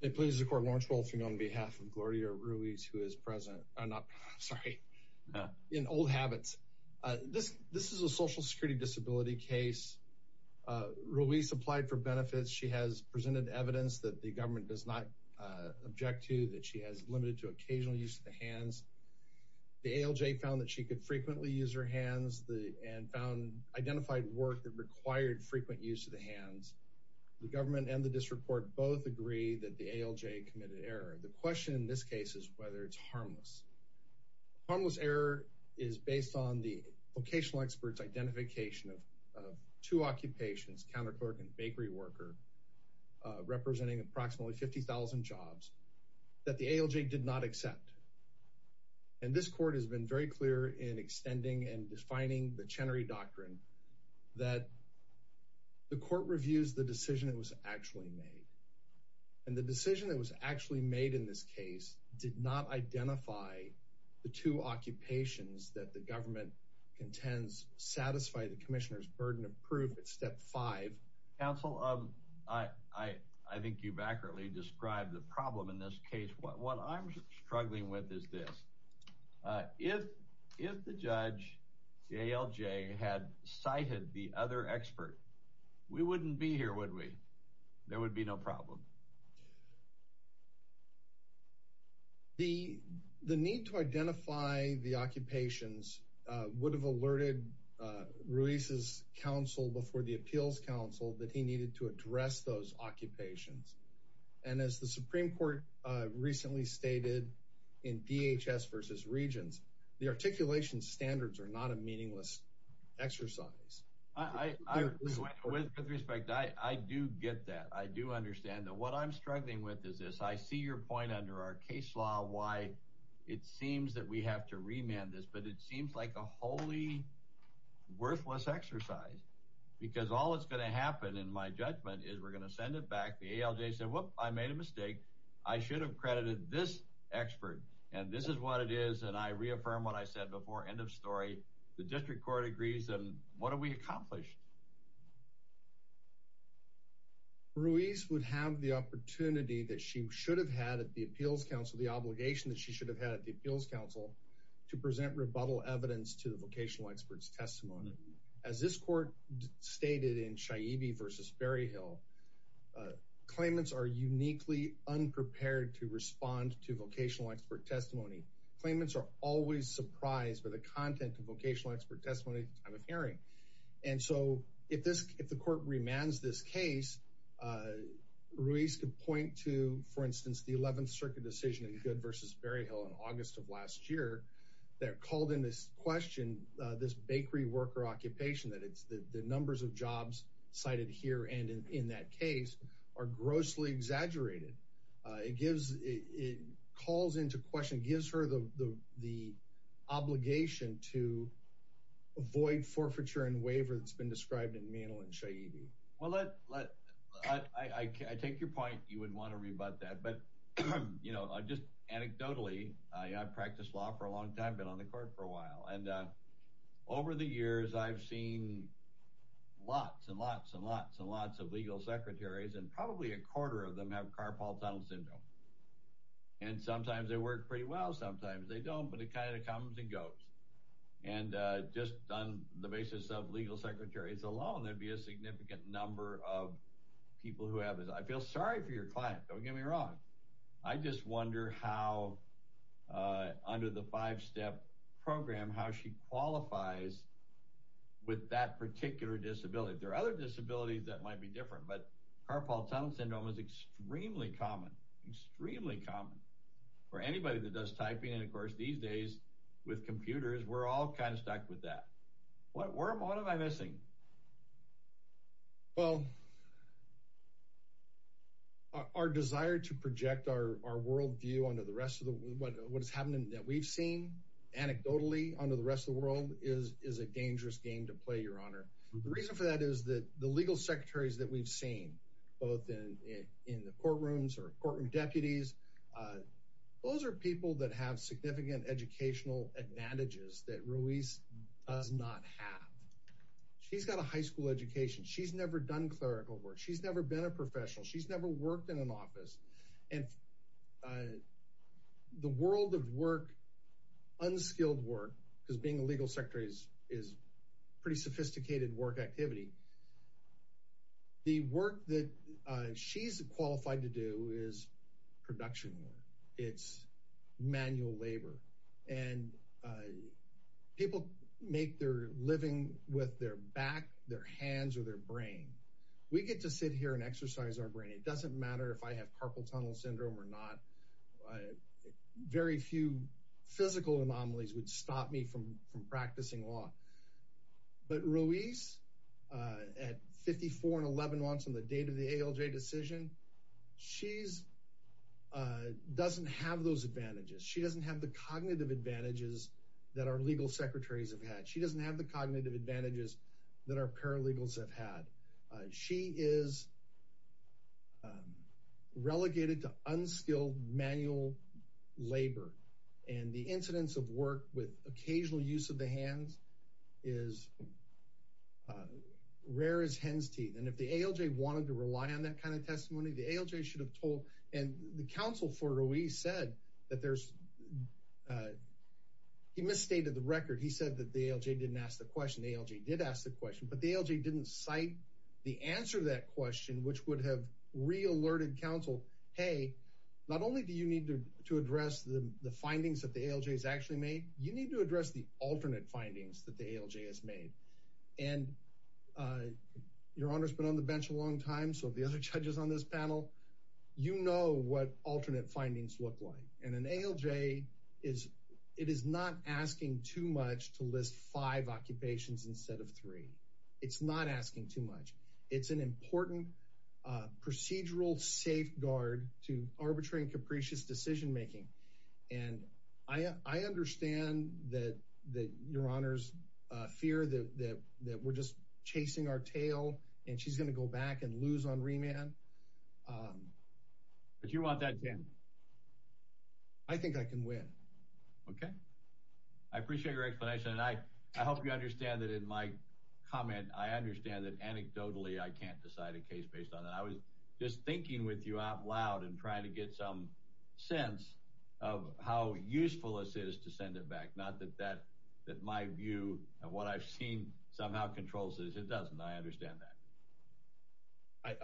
It pleases the court Lawrence Wolfing on behalf of Gloria Ruiz who is present, I'm not sorry, in old habits, this this is a social security disability case. Ruiz applied for benefits, she has presented evidence that the government does not object to, that she has limited to occasional use of the hands, the ALJ found that she could frequently use her hands, and found identified work that required frequent use of the hands. The government and the district court both agree that the ALJ committed error. The question in this case is whether it's harmless. Harmless error is based on the vocational experts identification of two occupations, counter clerk and bakery worker, representing approximately 50,000 jobs, that the ALJ did not accept. And this court has been very clear in extending and defining the Chenery Doctrine that the court reviews the decision that was actually made. And the decision that was actually made in this case did not identify the two occupations that the government contends satisfy the Commissioner's burden of proof at step five. Counsel, I think you've accurately described the problem in this case. What I'm struggling with is this. If the judge, the ALJ, had cited the other expert, we wouldn't be here, would we? There would be no problem. The need to identify the occupations would have alerted Ruiz's counsel before the appeals counsel that he needed to address those occupations. And as the Supreme Court recently stated in DHS versus Regents, the articulation standards are not a meaningless exercise. With respect, I do get that. I do understand that what I'm struggling with is this. I see your point under our case law why it seems that we have to remand this. But it seems like a wholly worthless exercise. Because all that's going to happen in my judgment is we're going to send it back. The ALJ said, whoop, I made a mistake. I should have credited this expert. And this is what it is. And I reaffirm what I said before. End of story. The district court agrees. And what have we accomplished? Ruiz would have the opportunity that she should have had at the appeals counsel, the obligation that she should have had at the appeals counsel, to present rebuttal evidence to the vocational expert's testimony. As this court stated in Shaibi versus Berryhill, claimants are uniquely unprepared to respond to vocational expert testimony. Claimants are always surprised by the content of vocational expert testimony at the time of hearing. And so if the court remands this case, Ruiz could point to, for instance, the 11th Circuit decision in Good versus Berryhill in August of last year that called into question this bakery worker occupation, that the numbers of jobs cited here and in that case are grossly exaggerated. It calls into question, gives her the obligation to avoid forfeiture and waiver that's been described in Mantel and Shaibi. Well, I take your point. You wouldn't want to rebut that. But just anecdotally, I practiced law for a long time, been on the court for a while. And over the years, I've seen lots and lots and lots and lots of legal secretaries, and probably a quarter of them have Carpal Tunnel Syndrome. And sometimes they work pretty well, sometimes they don't, but it kind of comes and goes. And just on the basis of legal secretaries alone, there'd be a significant number of people who have this. I feel sorry for your client, don't get me wrong. I just wonder how, under the five-step program, how she qualifies with that particular disability. There are other disabilities that might be different, but Carpal Tunnel Syndrome is extremely common, extremely common for anybody that does typing. And of course, these days, with computers, we're all kind of stuck with that. What am I missing? Well, our desire to project our worldview onto what is happening that we've seen, anecdotally, onto the rest of the world is a dangerous game to play, Your Honor. The reason for that is that the legal secretaries that we've seen, both in the courtrooms or courtroom deputies, those are people that have significant educational advantages that Ruiz does not have. She's got a high school education. She's never done clerical work. She's never been a professional. She's never worked in an office. And the world of work, unskilled work, because being a legal secretary is pretty sophisticated work activity, the work that she's qualified to do is production work. It's manual labor. And people make their living with their back, their hands, or their brain. We get to sit here and exercise our brain. It doesn't matter if I have Carpal Tunnel Syndrome or not. Very few physical anomalies would stop me from practicing law. But Ruiz, at 54 and 11 months on the date of the ALJ decision, she doesn't have those advantages. She doesn't have the cognitive advantages that our legal secretaries have had. She doesn't have the cognitive advantages that our paralegals have had. She is relegated to unskilled manual labor. And the incidence of work with occasional use of the hands is rare as hen's teeth. And if the ALJ wanted to rely on that kind of testimony, the ALJ should have told. And the counsel for Ruiz said that there's, he misstated the record. He said that the ALJ didn't ask the question. The ALJ did ask the question. But the ALJ didn't cite the answer to that question, which would have re-alerted counsel, hey, not only do you need to address the findings that the ALJ has actually made, you need to address the alternate findings that the ALJ has made. And your Honor's been on the bench a long time, so the other judges on this panel, you know what alternate findings look like. And an ALJ is, it is not asking too much to list five occupations instead of three. It's not asking too much. It's an important procedural safeguard to arbitrary and capricious decision making. And I understand that your Honor's fear that we're just chasing our tail and she's going to go back and lose on remand. But you want that, Dan? I think I can win. Okay. I appreciate your explanation. And I hope you understand that in my comment, I understand that anecdotally I can't decide a case based on that. I was just thinking with you out loud and trying to get some sense of how useful this is to send it back. Not that that, that my view of what I've seen somehow controls this. It doesn't. I understand that.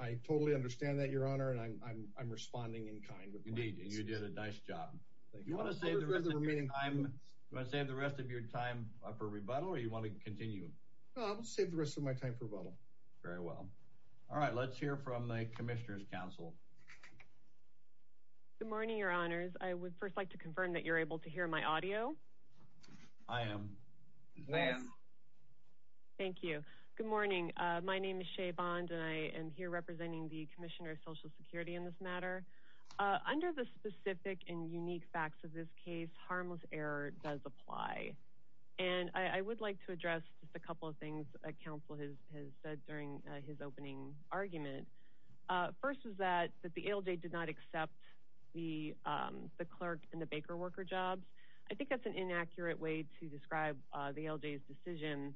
I totally understand that, your Honor. And I'm responding in kind. Indeed. And you did a nice job. Do you want to save the rest of your time for rebuttal or do you want to continue? I'll save the rest of my time for rebuttal. Very well. All right. Let's hear from the Commissioner's Council. Good morning, your Honors. I would first like to confirm that you're able to hear my audio. I am. I am. Thank you. Good morning. My name is Shea Bond and I am here representing the Commissioner of Social Security in this matter. Under the specific and unique facts of this case, harmless error does apply. And I would like to address just a couple of things a council has said during his opening argument. First is that the ALJ did not accept the clerk and the baker worker jobs. I think that's an inaccurate way to describe the ALJ's decision.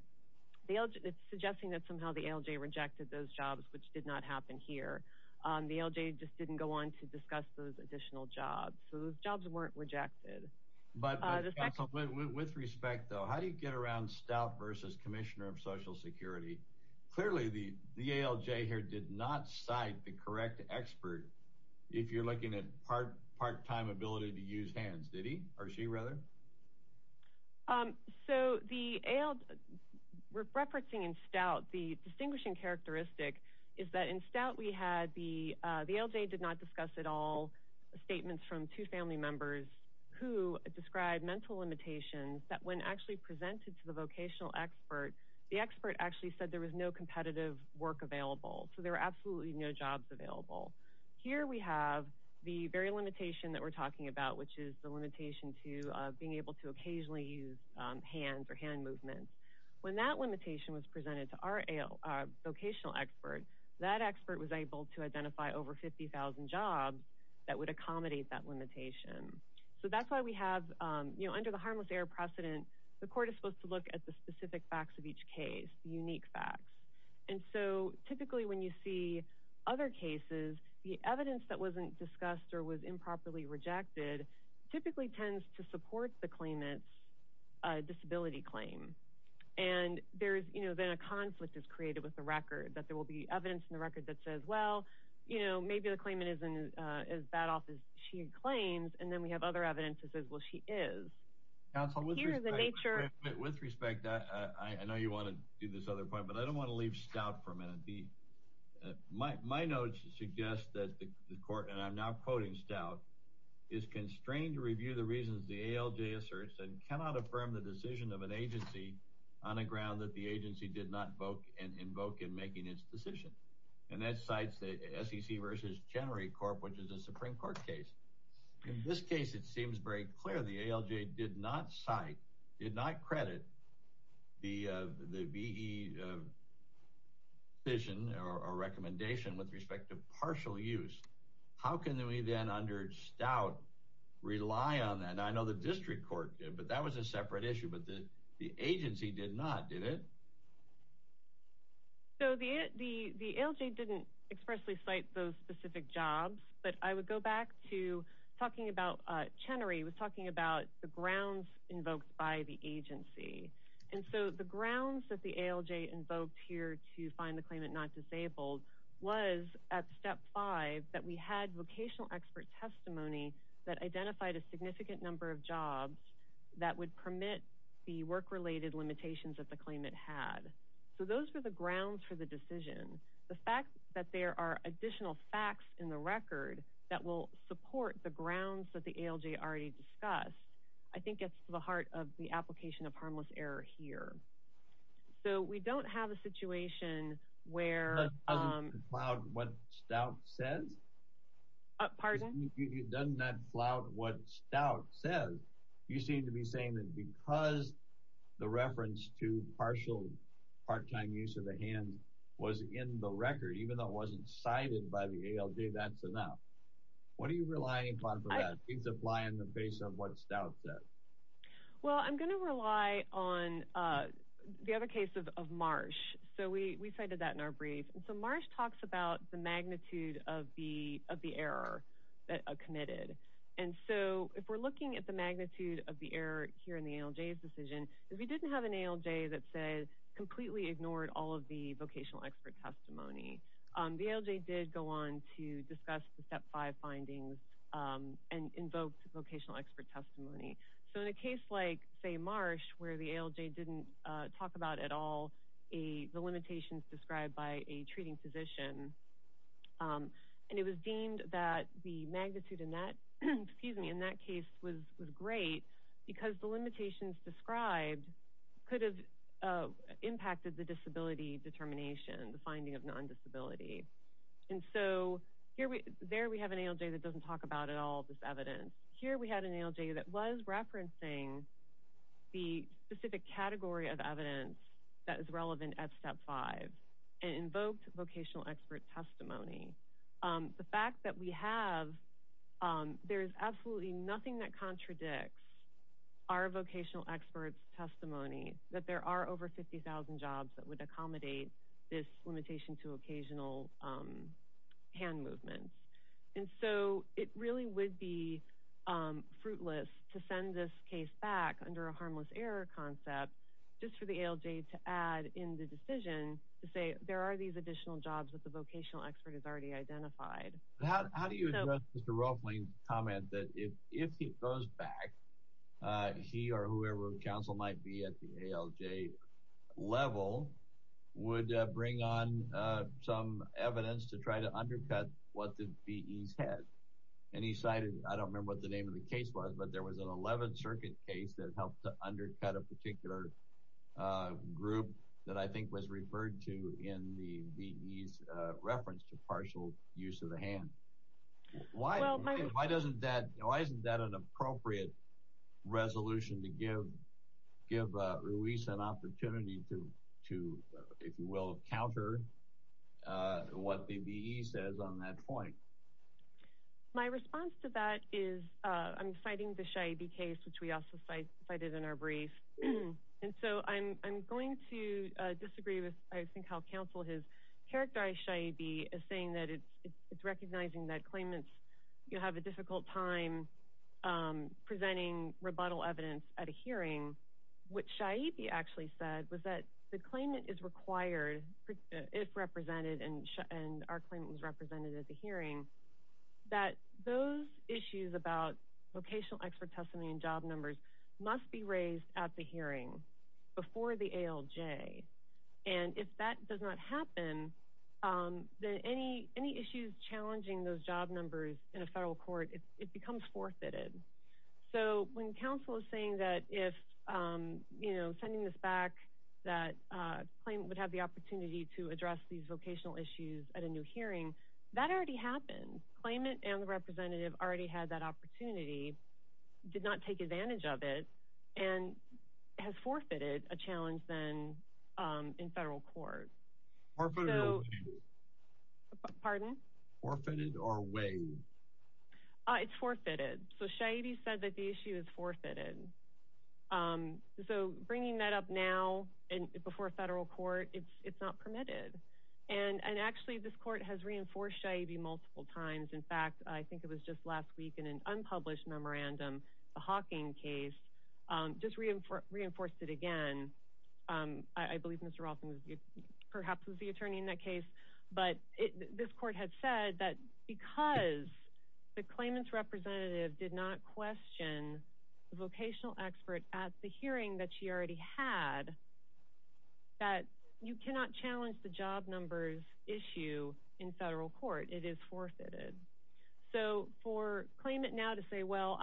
It's suggesting that somehow the ALJ rejected those jobs, which did not happen here. The ALJ just didn't go on to discuss those additional jobs. So those jobs weren't rejected. But with respect, though, how do you get around Stout versus Commissioner of Social Security? Clearly, the ALJ here did not cite the correct expert if you're looking at part-time ability to use hands. Did he? Or she, rather? So the ALJ, referencing in Stout, the distinguishing characteristic is that in Stout we had the ALJ did not discuss at all statements from two family members who described mental limitations that when actually presented to the vocational expert, the expert actually said there was no competitive work available. So there were absolutely no jobs available. Here we have the very limitation that we're talking about, which is the limitation to being able to occasionally use hands or hand movements. When that limitation was presented to our vocational expert, that expert was able to identify over 50,000 jobs that would accommodate that limitation. So that's why we have, you know, under the harmless error precedent, the court is supposed to look at the specific facts of each case, the unique facts. And so typically when you see other cases, the evidence that wasn't discussed or was improperly rejected typically tends to support the claimant's disability claim. And then a conflict is created with the record, that there will be evidence in the record that says, well, you know, maybe the claimant isn't as bad off as she claims, and then we have other evidence that says, well, she is. With respect, I know you want to do this other point, but I don't want to leave Stout for a minute. My notes suggest that the court, and I'm now quoting Stout, is constrained to review the reasons the ALJ asserts and cannot affirm the decision of an agency on a ground that the agency did not invoke in making its decision. And that cites the SEC versus Chenery Corp., which is a Supreme Court case. In this case, it seems very clear the ALJ did not cite, did not credit the VE decision or recommendation with respect to partial use. How can we then under Stout rely on that? And I know the district court did, but that was a separate issue, but the agency did not, did it? So the ALJ didn't expressly cite those specific jobs, but I would go back to talking about, Chenery was talking about the grounds invoked by the agency. And so the grounds that the ALJ invoked here to find the claimant not disabled was at step five that we had vocational expert testimony that identified a significant number of jobs that would permit the work-related limitations that the claimant had. So those were the grounds for the decision. The fact that there are additional facts in the record that will support the grounds that the ALJ already discussed, I think gets to the heart of the application of harmless error here. So we don't have a situation where... Doesn't that flout what Stout says? Pardon? Doesn't that flout what Stout says? You seem to be saying that because the reference to partial, part-time use of the hands was in the record, even though it wasn't cited by the ALJ, that's enough. What do you rely upon for that? Do you rely on the base of what Stout said? Well, I'm going to rely on the other case of Marsh. So we cited that in our brief. So Marsh talks about the magnitude of the error committed. And so if we're looking at the magnitude of the error here in the ALJ's decision, if we didn't have an ALJ that completely ignored all of the vocational expert testimony, the ALJ did go on to discuss the Step 5 findings and invoke vocational expert testimony. So in a case like, say, Marsh, where the ALJ didn't talk about at all the limitations described by a treating physician, and it was deemed that the magnitude in that case was great because the limitations described could have impacted the disability determination, the finding of non-disability. And so there we have an ALJ that doesn't talk about at all this evidence. Here we had an ALJ that was referencing the specific category of evidence that is relevant at Step 5 and invoked vocational expert testimony. The fact that we have, there is absolutely nothing that contradicts our vocational expert's testimony that there are over 50,000 jobs that would accommodate this limitation to occasional hand movements. And so it really would be fruitless to send this case back under a harmless error concept just for the ALJ to add in the decision to say there are these additional jobs that the vocational expert has already identified. How do you address Mr. Ruffling's comment that if he goes back, he or whoever counsel might be at the ALJ level would bring on some evidence to try to undercut what the VEs had? And he cited, I don't remember what the name of the case was, but there was an 11th Circuit case that helped to undercut a particular group that I think was referred to in the VEs reference to partial use of the hand. Why isn't that an appropriate resolution to give Ruiz an opportunity to, if you will, counter what the VEs says on that point? My response to that is I'm citing the Shaib case, which we also cited in our brief. And so I'm going to disagree with I think how counsel has characterized Shaib as saying that it's recognizing that claimants have a difficult time presenting rebuttal evidence at a hearing. What Shaib actually said was that the claimant is required, if represented, and our claimant was represented at the hearing, that those issues about vocational expert testimony and job numbers must be raised at the hearing before the ALJ. And if that does not happen, then any issues challenging those job numbers in a federal court, it becomes forfeited. So when counsel is saying that if, you know, sending this back, that claimant would have the opportunity to address these vocational issues at a new hearing, that already happened. Claimant and the representative already had that opportunity, did not take advantage of it, and has forfeited a challenge then in federal court. Forfeited or waived? Pardon? Forfeited or waived? It's forfeited. So Shaib said that the issue is forfeited. So bringing that up now before a federal court, it's not permitted. And actually, this court has reinforced Shaib multiple times. In fact, I think it was just last week in an unpublished memorandum, the Hawking case, just reinforced it again. I believe Mr. Rothman perhaps was the attorney in that case. But this court had said that because the claimant's representative did not question the vocational expert at the hearing that she already had, that you cannot challenge the job numbers issue in federal court. It is forfeited. So for claimant now to say, well,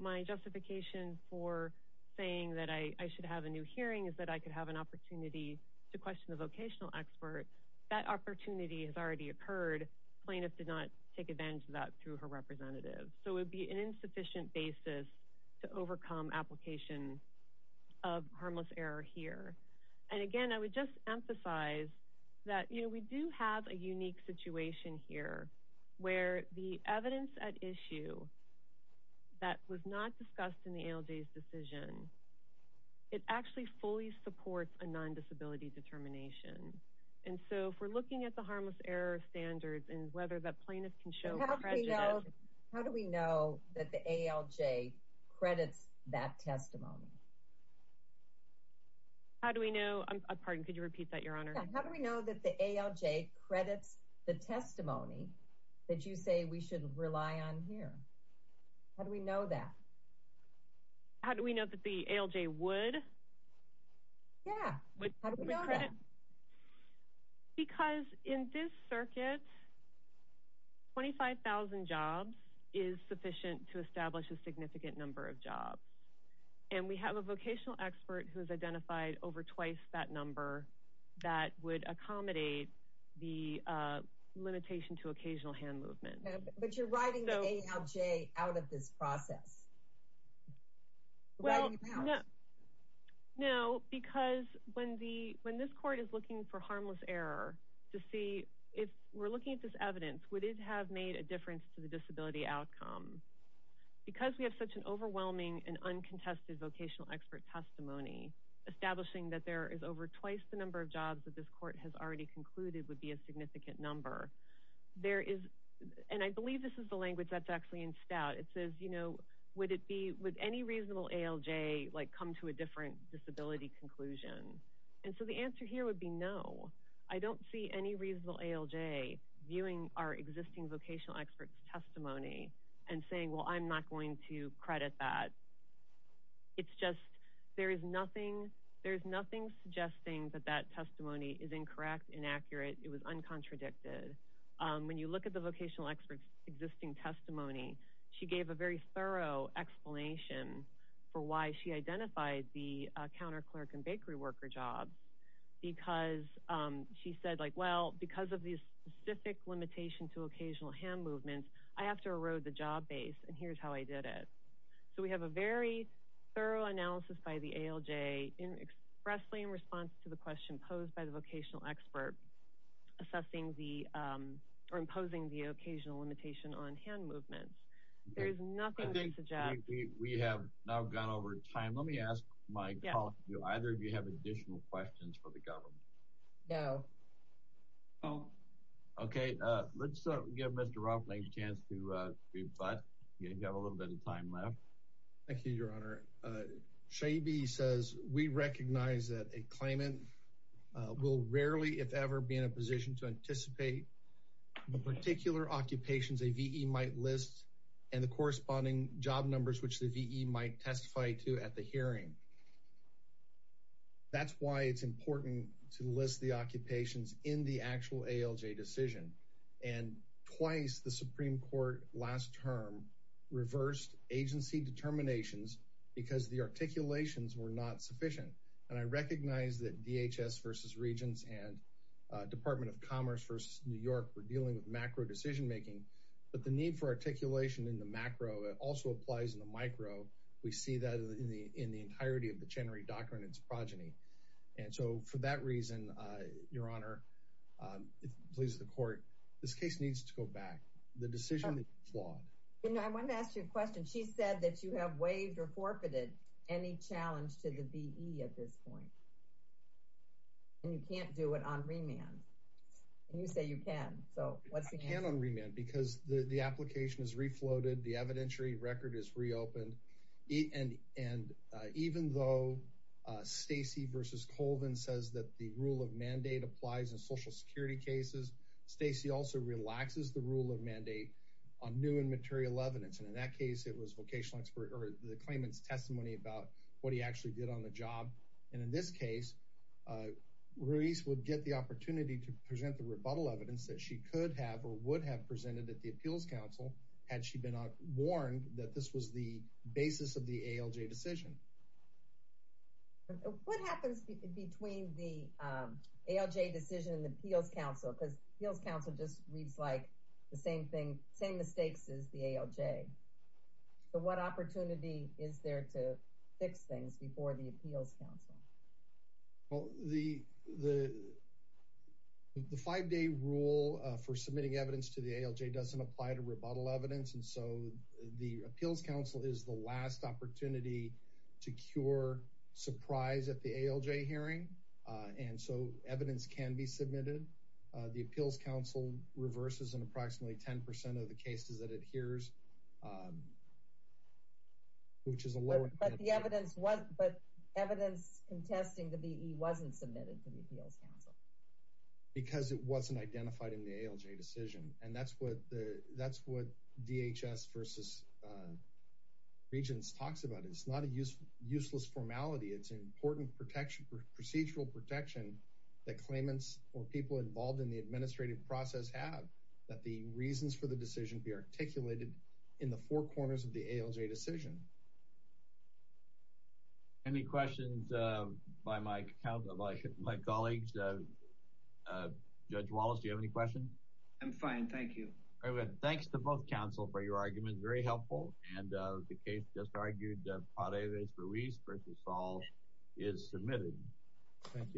my justification for saying that I should have a new hearing is that I could have an opportunity to question the vocational expert, that opportunity has already occurred. Plaintiff did not take advantage of that through her representative. So it would be an insufficient basis to overcome application of harmless error here. And again, I would just emphasize that we do have a unique situation here where the evidence at issue that was not discussed in the ALJ's decision, it actually fully supports a non-disability determination. And so if we're looking at the harmless error standards and whether that plaintiff can show prejudice. How do we know that the ALJ credits that testimony? How do we know? Pardon, could you repeat that, Your Honor? How do we know that the ALJ credits the testimony that you say we should rely on here? How do we know that? How do we know that the ALJ would? Yeah. How do we know that? Because in this circuit, 25,000 jobs is sufficient to establish a significant number of jobs. And we have a vocational expert who has identified over twice that number that would accommodate the limitation to occasional hand movement. But you're writing the ALJ out of this process. Well, no. Because when this court is looking for harmless error to see if we're looking at this evidence, would it have made a difference to the disability outcome? Because we have such an overwhelming and uncontested vocational expert testimony, establishing that there is over twice the number of jobs that this court has already concluded would be a significant number. There is, and I believe this is the language that's actually in stout. It says, would any reasonable ALJ come to a different disability conclusion? And so the answer here would be no. I don't see any reasonable ALJ viewing our existing vocational expert's testimony and saying, well, I'm not going to credit that. It's just there is nothing suggesting that that testimony is incorrect, inaccurate, it was uncontradicted. When you look at the vocational expert's existing testimony, she gave a very thorough explanation for why she identified the counterclerk and bakery worker jobs. Because she said, well, because of these specific limitations to occasional hand movements, I have to erode the job base, and here's how I did it. So we have a very thorough analysis by the ALJ expressly in response to the question posed by the vocational expert, assessing the, or imposing the occasional limitation on hand movements. There is nothing to suggest. We have now gone over time. Let me ask my colleague, do either of you have additional questions for the government? No. Okay, let's give Mr. Rothblatt a chance to rebut. You have a little bit of time left. Thank you, Your Honor. Shaibi says, we recognize that a claimant will rarely, if ever, be in a position to anticipate the particular occupations a V.E. might list and the corresponding job numbers, which the V.E. might testify to at the hearing. That's why it's important to list the occupations in the actual ALJ decision, and twice the Supreme Court last term reversed agency determinations because the articulations were not sufficient. And I recognize that DHS versus Regents and Department of Commerce versus New York were dealing with macro decision making, but the need for articulation in the macro also applies in the micro. We see that in the entirety of the Chenery Doctrine and its progeny. And so for that reason, Your Honor, please, the court, this case needs to go back. The decision is flawed. I want to ask you a question. She said that you have waived or forfeited any challenge to the V.E. at this point. And you can't do it on remand. And you say you can. I can on remand because the application is refloated. The evidentiary record is reopened. And even though Stacy versus Colvin says that the rule of mandate applies in Social Security cases, Stacy also relaxes the rule of mandate on new and material evidence. And in that case, it was vocational expert or the claimant's testimony about what he actually did on the job. And in this case, Ruiz would get the opportunity to present the rebuttal evidence that she could have or would have presented at the appeals council, had she been warned that this was the basis of the ALJ decision. What happens between the ALJ decision and the appeals council? Because appeals council just reads like the same thing, same mistakes as the ALJ. But what opportunity is there to fix things before the appeals council? Well, the five day rule for submitting evidence to the ALJ doesn't apply to rebuttal evidence. And so the appeals council is the last opportunity to cure surprise at the ALJ hearing. And so evidence can be submitted. The appeals council reverses and approximately 10% of the cases that adheres, which is a lower, but evidence contesting the BE wasn't submitted to the appeals council because it wasn't identified in the ALJ decision. And that's what the, that's what DHS versus regents talks about. It's not a useless formality. It's an important protection for procedural protection that claimants or people involved in the administrative process have that the reasons for the decision to be articulated in the four corners of the ALJ decision. Any questions by my count of my colleagues, judge Wallace, do you have any questions? I'm fine. Thank you. Thanks to both council for your argument. Very helpful. And the case just argued that part of it is for Reese versus all is submitted.